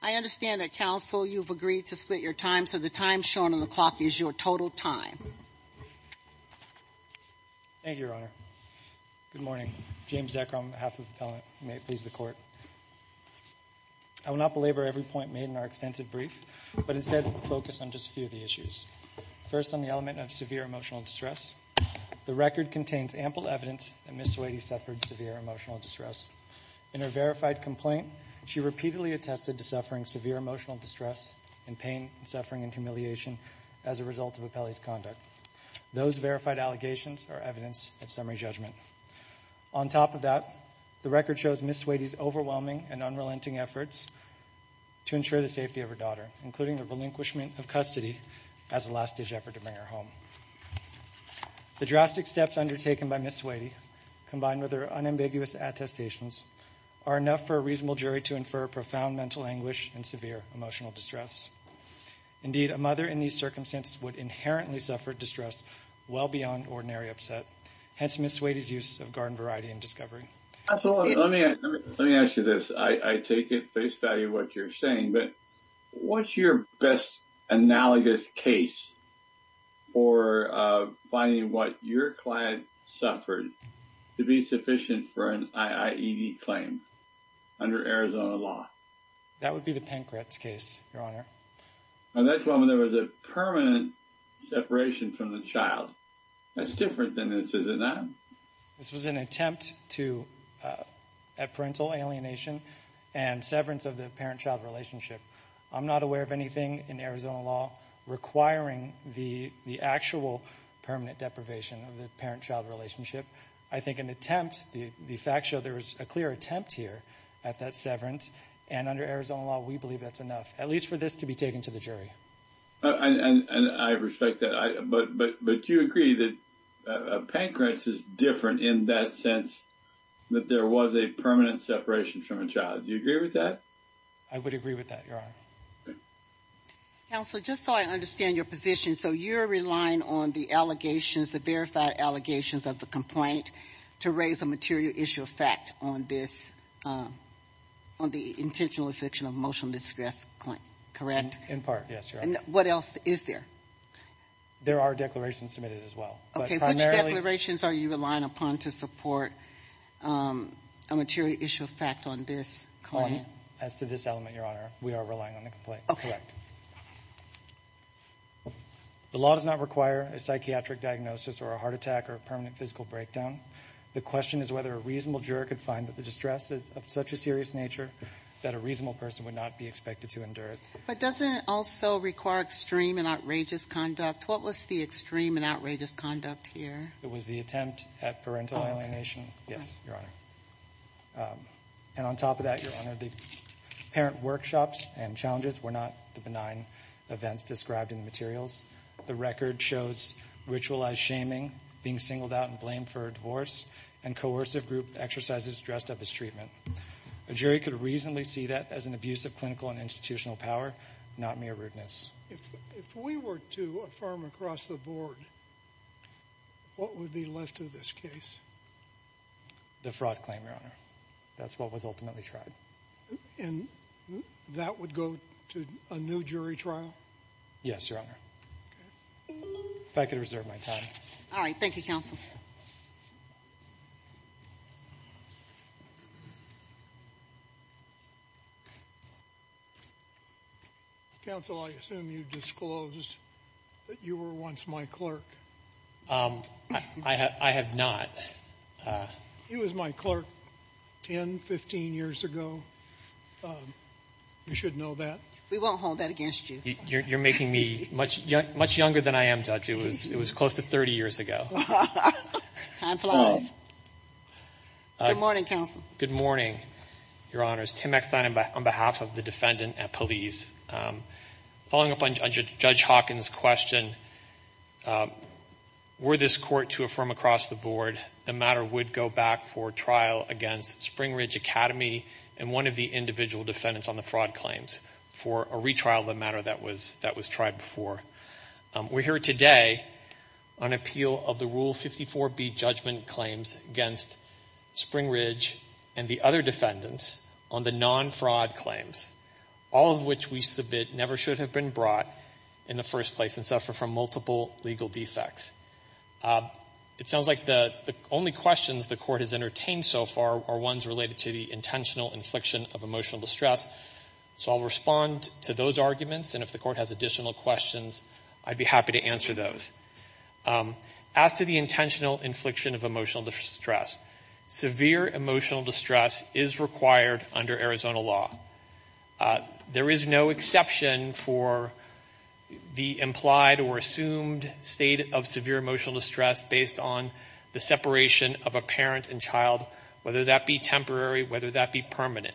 I understand that counsel you've agreed to split your time so the time shown on the clock is your total time. Thank you, Your Honor. Good morning. James Decker on behalf of the appellant. May it please the court. I will not belabor every point made in our extensive brief but instead focus on just a few of the issues. First on the element of severe emotional distress. The record contains ample evidence that Ms. Sweaty's complaint, she repeatedly attested to suffering severe emotional distress and pain and suffering and humiliation as a result of Appellee's conduct. Those verified allegations are evidence at summary judgment. On top of that, the record shows Ms. Sweaty's overwhelming and unrelenting efforts to ensure the safety of her daughter, including the relinquishment of custody as a last-ditch effort to bring her home. The drastic steps undertaken by Ms. Sweaty, combined with her unambiguous attestations, are enough for a reasonable jury to infer profound mental anguish and severe emotional distress. Indeed, a mother in these circumstances would inherently suffer distress well beyond ordinary upset. Hence Ms. Sweaty's use of garden variety and discovery. Let me ask you this. I take at face value what you're saying, but what's your best analogous case for finding what your client suffered to be sufficient for an IAED claim under Arizona law? That would be the Pankratz case, Your Honor. And that's when there was a permanent separation from the child. That's different than this, is it not? This was an attempt to, at parental alienation and severance of the parent-child relationship. I'm not aware of anything in Arizona law requiring the actual permanent deprivation of the parent-child relationship. I think an attempt, the facts show there was a clear attempt here at that severance, and under Arizona law, we believe that's enough, at least for this to be taken to the jury. And I respect that, but you agree that Pankratz is different in that sense, that there was a permanent separation from the parent-child. Do you agree with that? I would agree with that, Your Honor. Counselor, just so I understand your position, so you're relying on the allegations, the verified allegations of the complaint to raise a material issue of fact on this, on the intentional affliction of emotional distress claim, correct? In part, yes, Your Honor. And what else is there? There are declarations submitted as well. Okay, which declarations are you relying upon to support a material issue of fact on this claim? As to this element, Your Honor, we are relying on the complaint, correct. Okay. The law does not require a psychiatric diagnosis or a heart attack or a permanent physical breakdown. The question is whether a reasonable juror could find that the distress is of such a serious nature that a reasonable person would not be expected to endure it. But doesn't it also require extreme and outrageous conduct? What was the extreme and outrageous conduct here? It was the attempt at parental alienation. Yes, Your Honor. And on top of that, Your Honor, the parent workshops and challenges were not the benign events described in the materials. The record shows ritualized shaming, being singled out and blamed for a divorce, and coercive group exercises dressed up as treatment. A jury could reasonably see that as an abuse of clinical and institutional power, not mere rudeness. If we were to affirm across the board, what would be left of this case? The fraud claim, Your Honor. That's what was ultimately tried. And that would go to a new jury trial? Yes, Your Honor. If I could reserve my time. All right. Counsel, I assume you disclosed that you were once my clerk. I have not. He was my clerk 10, 15 years ago. You should know that. We won't hold that against you. You're making me much younger than I am, Judge. It was close to 30 years ago. Good morning, Counsel. Good morning, Your Honors. Tim Eckstein on behalf of the defendant at police. Following up on Judge Hawkins' question, were this court to affirm across the board, the matter would go back for trial against Spring Ridge Academy and one of the individual defendants on the fraud claims for a retrial of the matter that was tried before. We're here today on appeal of the Rule 54B judgment claims against Spring Ridge and the other defendants on the non-fraud claims, all of which we submit never should have been brought in the first place and suffer from multiple legal defects. It sounds like the only questions the court has entertained so far are ones related to the intentional infliction of emotional distress. So I'll respond to those arguments. And if the court has additional questions, I'd be happy to answer those. As to the intentional infliction of emotional distress, severe emotional distress is required under Arizona law. There is no exception for the implied or assumed state of severe emotional distress based on the separation of a parent and child, whether that be temporary, whether that be permanent.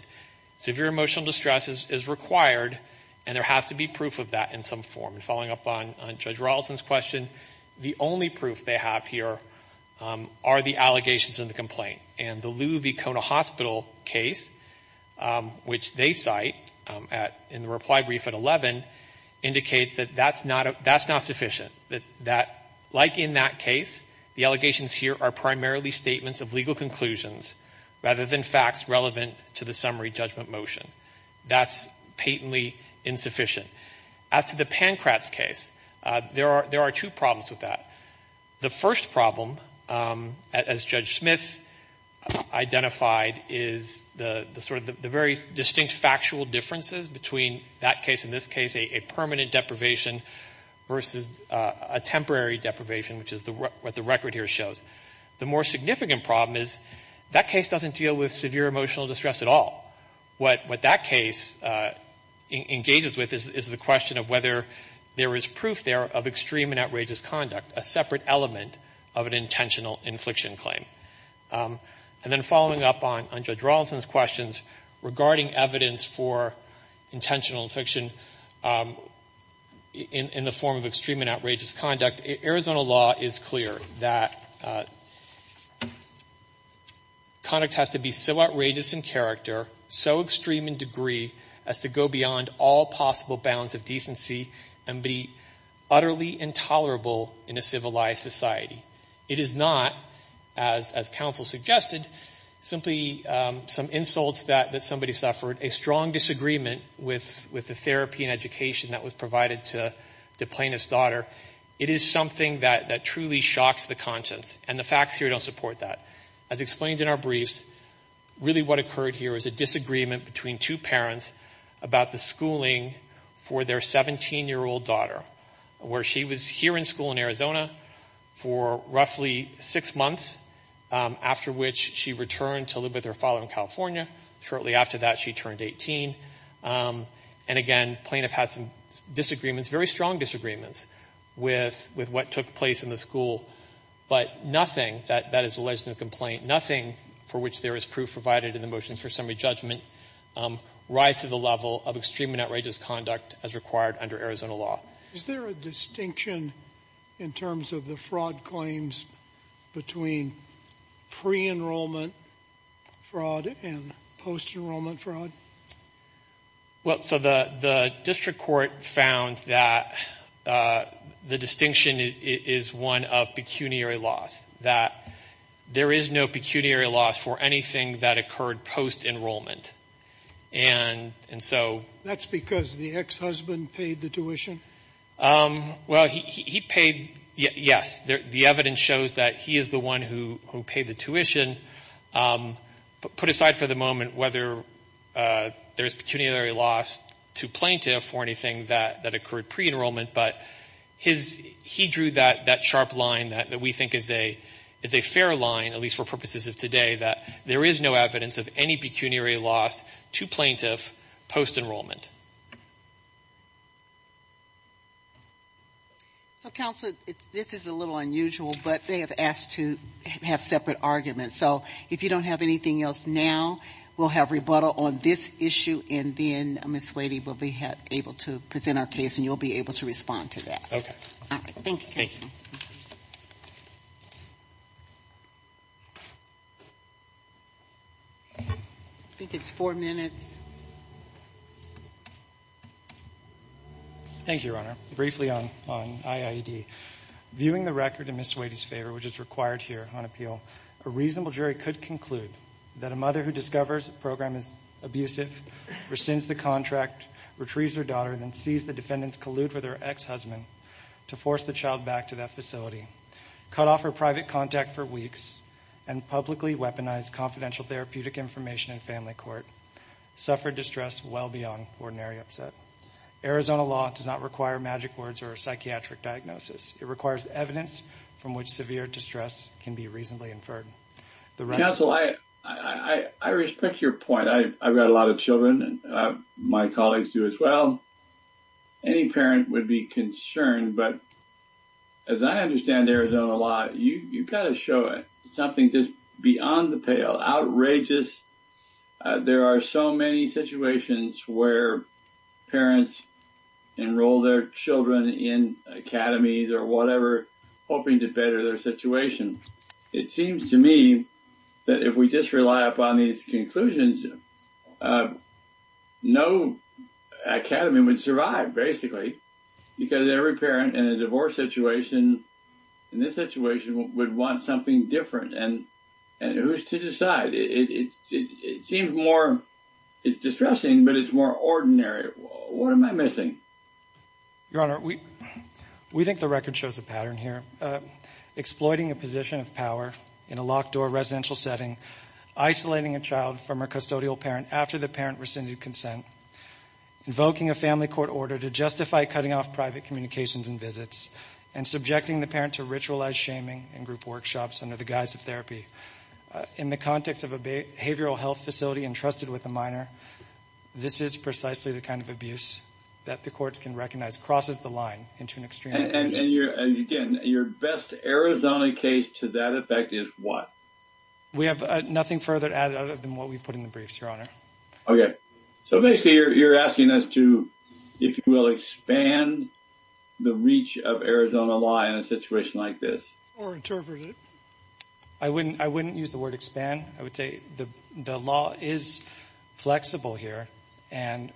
Severe emotional distress is required and there has to be proof of that in some form. And following up on Judge Rolison's question, the only proof they have here are the allegations in the complaint. And the Lou V. Kona Hospital case, which they cite in the reply brief at 11, indicates that that's not sufficient. Like in that case, the allegations here are primarily statements of legal conclusions rather than facts relevant to the summary judgment motion. That's patently insufficient. As to the Pankratz case, there are two problems with that. The first problem, as Judge Smith identified, is the sort of the very distinct factual differences between that case and this case, a permanent deprivation versus a temporary deprivation, which is what the The more significant problem is that case doesn't deal with severe emotional distress at all. What that case engages with is the question of whether there is proof there of extreme and outrageous conduct, a separate element of an intentional infliction claim. And then following up on Judge Rolison's questions regarding evidence for intentional infliction in the form of extreme and outrageous conduct, Arizona law is clear that conduct has to be so outrageous in character, so extreme in degree, as to go beyond all possible bounds of decency and be utterly intolerable in a civilized society. It is not, as counsel suggested, simply some insults that somebody suffered, a strong disagreement with the therapy and education that was provided to the plaintiff's daughter. It is something that truly shocks the conscience, and the facts here don't support that. As explained in our briefs, really what occurred here is a disagreement between two parents about the schooling for their 17-year-old daughter, where she was here in school in Arizona for roughly six months, after which she returned to live with her father in California. Shortly after that, she turned 18. And again, plaintiff has some disagreements, very strong disagreements, with what took place in the school. But nothing that is alleged in the complaint, nothing for which there is proof provided in the motion for summary judgment, rise to the level of extreme and outrageous conduct as required under Arizona law. Is there a distinction in terms of the fraud claims between pre-enrollment fraud and post-enrollment fraud? Well, so the district court found that the distinction is one of pecuniary loss, that there is no pecuniary loss for anything that occurred post-enrollment. That's because the ex-husband paid the tuition? Well, he paid, yes. The evidence shows that he is the one who paid the tuition. Put aside for the moment whether there is pecuniary loss to plaintiff for anything that occurred pre-enrollment, but he drew that sharp line that we think is a fair line, at least for purposes of today, that there is no evidence of any pecuniary loss to plaintiff post-enrollment. So, Counselor, this is a little unusual, but they have asked to have separate arguments. So, if you don't have anything else now, we'll have rebuttal on this issue and then Ms. Wadey will be able to present our case and you'll be able to respond to that. Okay. Thank you, Counselor. I think it's four minutes. Thank you, Your Honor. Briefly on IID. Viewing the record in Ms. Wadey's favor, which is required here on appeal, a reasonable jury could conclude that a mother who discovers a program is abusive, rescinds the contract, retrieves her daughter, and then sees the defendants collude with her ex-husband to force the child back to that facility, cut off her private contact for weeks, and publicly weaponized confidential therapeutic information in family court, suffered distress well beyond ordinary upset. Arizona law does not require magic words or a psychiatric diagnosis. It requires evidence from which severe distress can be reasonably inferred. Counsel, I respect your point. I've got a lot of children. My colleagues do as well. Any parent would be concerned. But as I understand Arizona law, you've got to show it. Something just beyond the pale. Outrageous. There are so many situations where parents enroll their children in academies or whatever, hoping to better their situation. It seems to me that if we just rely upon these conclusions, no academy would survive, basically. Because every parent in a divorce situation, in this situation, would want something different. And who's to decide? It seems more distressing, but it's more ordinary. What am I missing? Your Honor, we think the record shows a pattern here. Exploiting a position of power in a locked-door residential setting. Isolating a child from her custodial parent after the parent rescinded consent. Invoking a family court order to justify cutting off private communications and visits. And subjecting the parent to ritualized shaming in group workshops under the guise of therapy. In the context of a behavioral health facility entrusted with a minor, this is precisely the kind of abuse that the courts can recognize. Crosses the line into an extreme. And again, your best Arizona case to that effect is what? We have nothing further added other than what we put in the briefs, Okay. So basically you're asking as to if you will expand the reach of Arizona law in a situation like this. Or interpret it. I wouldn't use the word expand. I would say the law is flexible here. And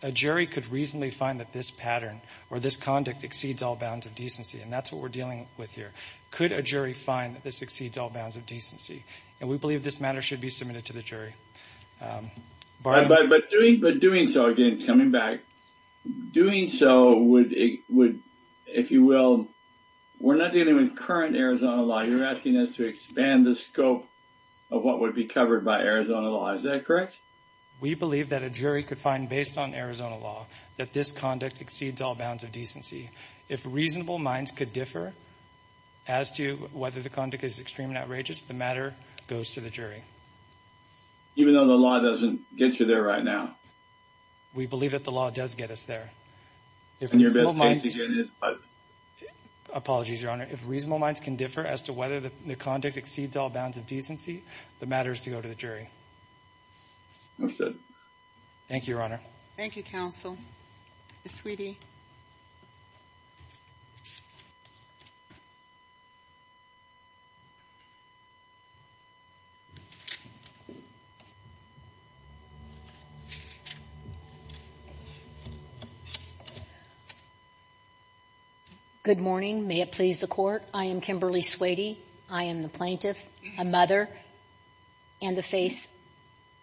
a jury could reasonably find that this pattern or this conduct exceeds all bounds of decency. And that's what we're dealing with here. Could a jury find that this exceeds all bounds of decency? And we believe this matter should be submitted to the jury. But doing so again, coming back. Doing so would, if you will. We're not dealing with current Arizona law. You're asking us to expand the scope of what would be covered by Arizona law. Is that correct? We believe that a jury could find based on Arizona law that this conduct exceeds all bounds of decency. If reasonable minds could differ as to whether the conduct is extremely outrageous, the matter goes to the jury. Even though the law doesn't get you there right now? We believe that the law does get us there. And your best case again is what? Apologies, your honor. If reasonable minds can differ as to whether the conduct exceeds all bounds of decency, the matter is to go to the jury. Understood. Thank you, your honor. Thank you, counsel. Ms. Sweedy. Good morning. May it please the court. I am Kimberly Sweedy. I am the plaintiff, a mother, and the face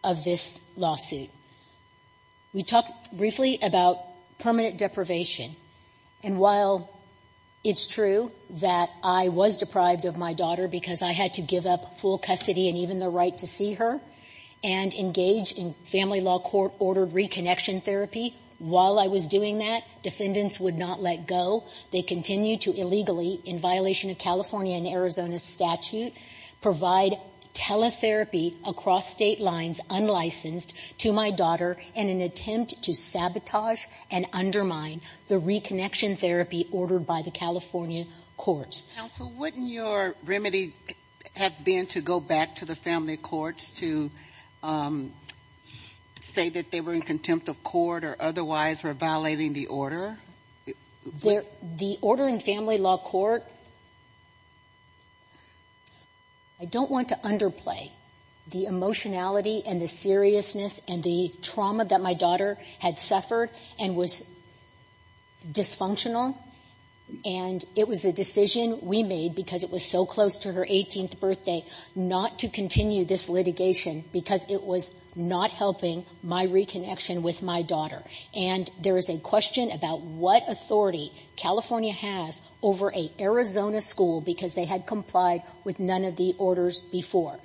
of this lawsuit. We talked briefly about permanent deprivation. And while it's true that I was deprived of my daughter because I had to give up full custody and even the right to see her and engage in family law court-ordered reconnection therapy, while I was doing that, defendants would not let go. They continued to illegally, in violation of California and Arizona's statute, provide teletherapy across state lines unlicensed to my daughter in an attempt to sabotage and undermine the reconnection therapy ordered by the California courts. Counsel, wouldn't your remedy have been to go back to the family courts to say that they were in contempt of court or otherwise were violating the order? The order in family law court, I don't want to underplay the emotionality and the seriousness and the trauma that my daughter had suffered and was dysfunctional, and it was a decision we made because it was so close to her 18th birthday not to continue this litigation because it was not helping my reconnection with my daughter. And there is a question about what authority California has over an Arizona school because they had complied with none of the orders before.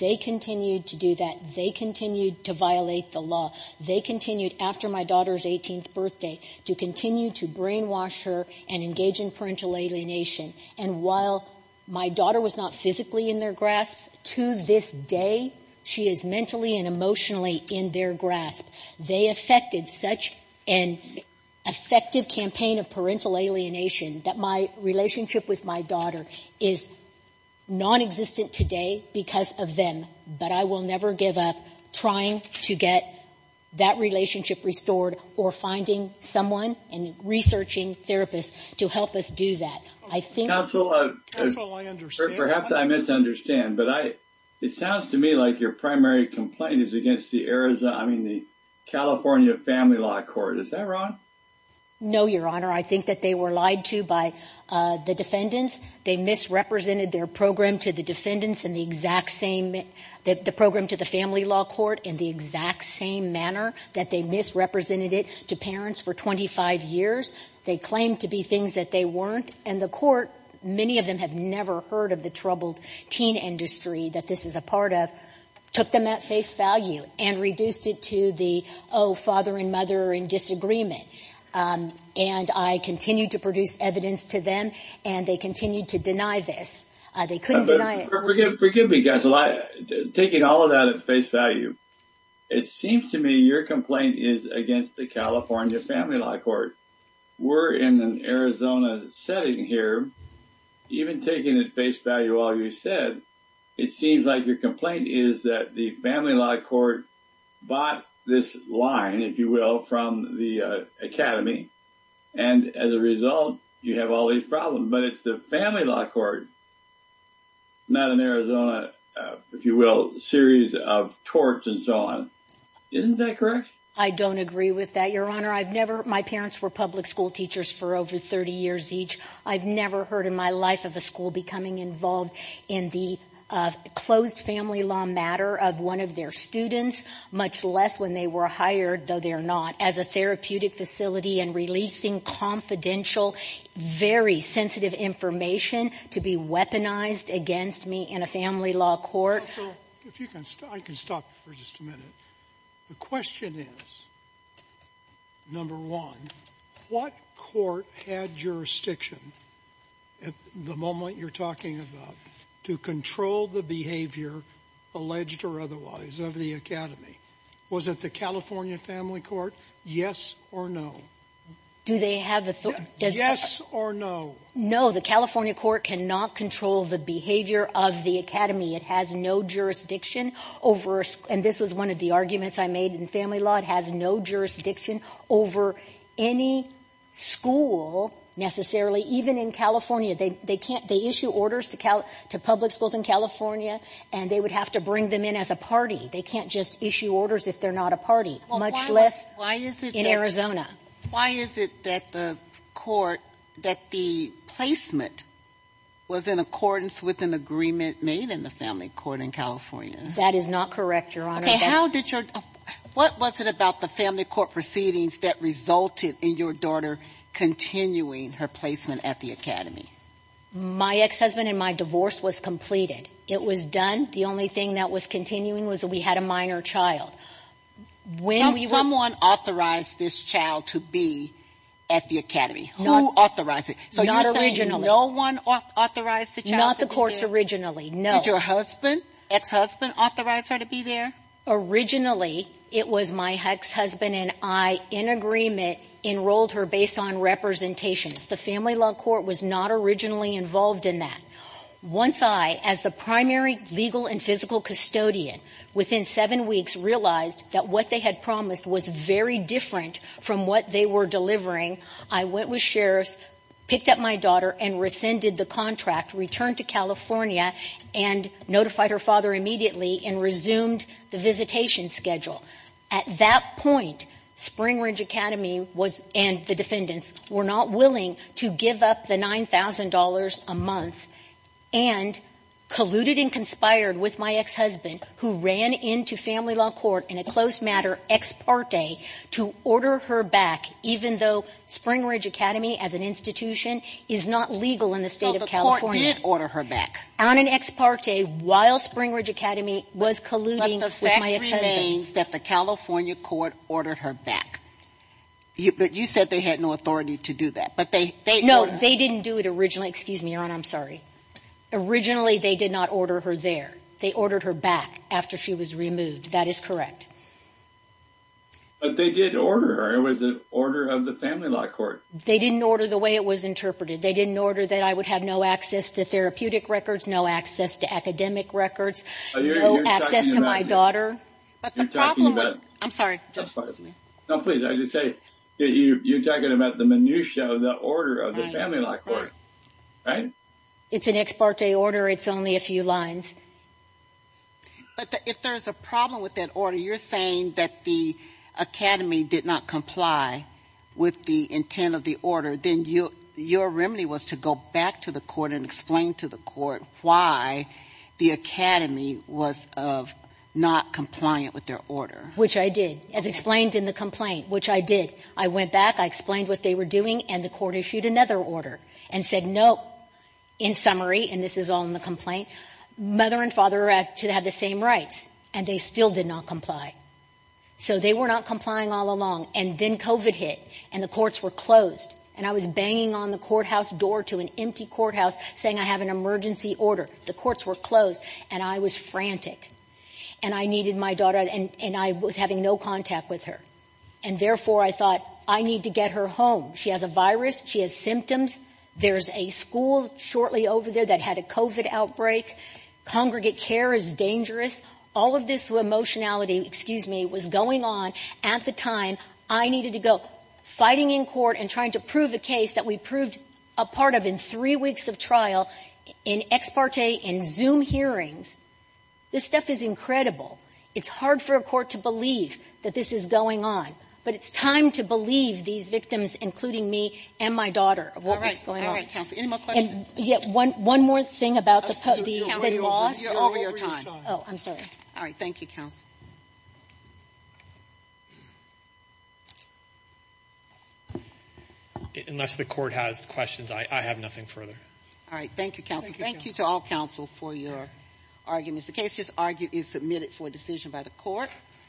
They continued to do that. They continued to violate the law. They continued, after my daughter's 18th birthday, to continue to brainwash her and engage in parental alienation. And while my daughter was not physically in their grasp, to this day, she is mentally and emotionally in their grasp. They affected such an effective campaign of parental alienation that my relationship with my daughter is nonexistent today because of them. But I will never give up trying to get that relationship restored or finding someone and researching therapists to help us do that. Counsel, perhaps I misunderstand, but it sounds to me like your primary complaint is against the Arizona, I mean the California family law court. Is that wrong? No, Your Honor. I think that they were lied to by the defendants. They misrepresented their program to the defendants in the exact same, the program to the family law court in the exact same manner that they misrepresented it to parents for 25 years. They claimed to be things that they weren't. And the court, many of them have never heard of the troubled teen industry that this is a part of, took them at face value and reduced it to the, oh, father and mother are in disagreement. And I continued to produce evidence to them and they continued to deny this. They couldn't deny it. Forgive me, guys, taking all of that at face value. It seems to me your complaint is against the California family law court. We're in an Arizona setting here. Even taking at face value all you said, it seems like your complaint is that the family law court bought this line, if you will, from the academy, and as a result, you have all these problems. But it's the family law court, not an Arizona, if you will, series of torts and so on. Isn't that correct? I don't agree with that, Your Honor. I've never, my parents were public school teachers for over 30 years each. I've never heard in my life of a school becoming involved in the closed family law matter of one of their students, much less when they were hired, though they're not, as a therapeutic facility and releasing confidential, very sensitive information to be weaponized against me in a family law court. Sotomayor, if you can, I can stop you for just a minute. The question is, number one, what court had jurisdiction at the moment you're talking about to control the behavior, alleged or otherwise, of the academy? Was it the California family court? Yes or no? Do they have authority? Yes or no? No. The California court cannot control the behavior of the academy. It has no jurisdiction over, and this was one of the arguments I made in family law, it has no jurisdiction over any school necessarily, even in California. They issue orders to public schools in California, and they would have to bring them in as a party. They can't just issue orders if they're not a party, much less in Arizona. Why is it that the court, that the placement was in accordance with an agreement made in the family court in California? That is not correct, Your Honor. What was it about the family court proceedings that resulted in your daughter continuing her placement at the academy? My ex-husband and my divorce was completed. It was done. The only thing that was continuing was that we had a minor child. When we were ---- Someone authorized this child to be at the academy. Who authorized it? Not originally. So you're saying no one authorized the child to be there? Not the courts originally, no. Did your husband, ex-husband, authorize her to be there? Originally, it was my ex-husband and I, in agreement, enrolled her based on representations. The family law court was not originally involved in that. Once I, as the primary legal and physical custodian, within seven weeks realized that what they had promised was very different from what they were delivering, I went with sheriffs, picked up my daughter and rescinded the contract, returned to California and notified her father immediately and resumed the visitation schedule. At that point, Spring Ridge Academy was ---- and the defendants were not willing to give up the $9,000 a month and colluded and conspired with my ex-husband who ran into family law court in a close matter, ex parte, to order her back, even though Spring Ridge Academy, as an institution, is not legal in the State of California. So the court did order her back? On an ex parte, while Spring Ridge Academy was colluding with my ex-husband. But the fact remains that the California court ordered her back. But you said they had no authority to do that. No, they didn't do it originally. Excuse me, Your Honor, I'm sorry. Originally, they did not order her there. They ordered her back after she was removed. That is correct. But they did order her. It was an order of the family law court. They didn't order the way it was interpreted. They didn't order that I would have no access to therapeutic records, no access to academic records, no access to my daughter. But the problem is ---- I'm sorry. No, please, I just say that you're talking about the minutia of the order of the family law court. Right? It's an ex parte order. It's only a few lines. But if there's a problem with that order, you're saying that the Academy did not comply with the intent of the order, then your remedy was to go back to the court and explain to the court why the Academy was not compliant with their order. Which I did, as explained in the complaint, which I did. I went back. I explained what they were doing. And the court issued another order and said no. In summary, and this is all in the complaint, mother and father have the same rights. And they still did not comply. So they were not complying all along. And then COVID hit. And the courts were closed. And I was banging on the courthouse door to an empty courthouse saying I have an emergency order. The courts were closed. And I was frantic. And I needed my daughter. And I was having no contact with her. And therefore, I thought I need to get her home. She has a virus. She has symptoms. There's a school shortly over there that had a COVID outbreak. Congregate care is dangerous. All of this emotionality, excuse me, was going on at the time I needed to go fighting in court and trying to prove a case that we proved a part of in three weeks of trial in ex parte in Zoom hearings. This stuff is incredible. It's hard for a court to believe that this is going on. But it's time to believe these victims, including me and my daughter, of what was going on. All right, counsel. Any more questions? One more thing about the loss. You're over your time. Oh, I'm sorry. All right. Thank you, counsel. Unless the court has questions, I have nothing further. All right. Thank you, counsel. Thank you to all counsel for your arguments. The case is submitted for decision by the court.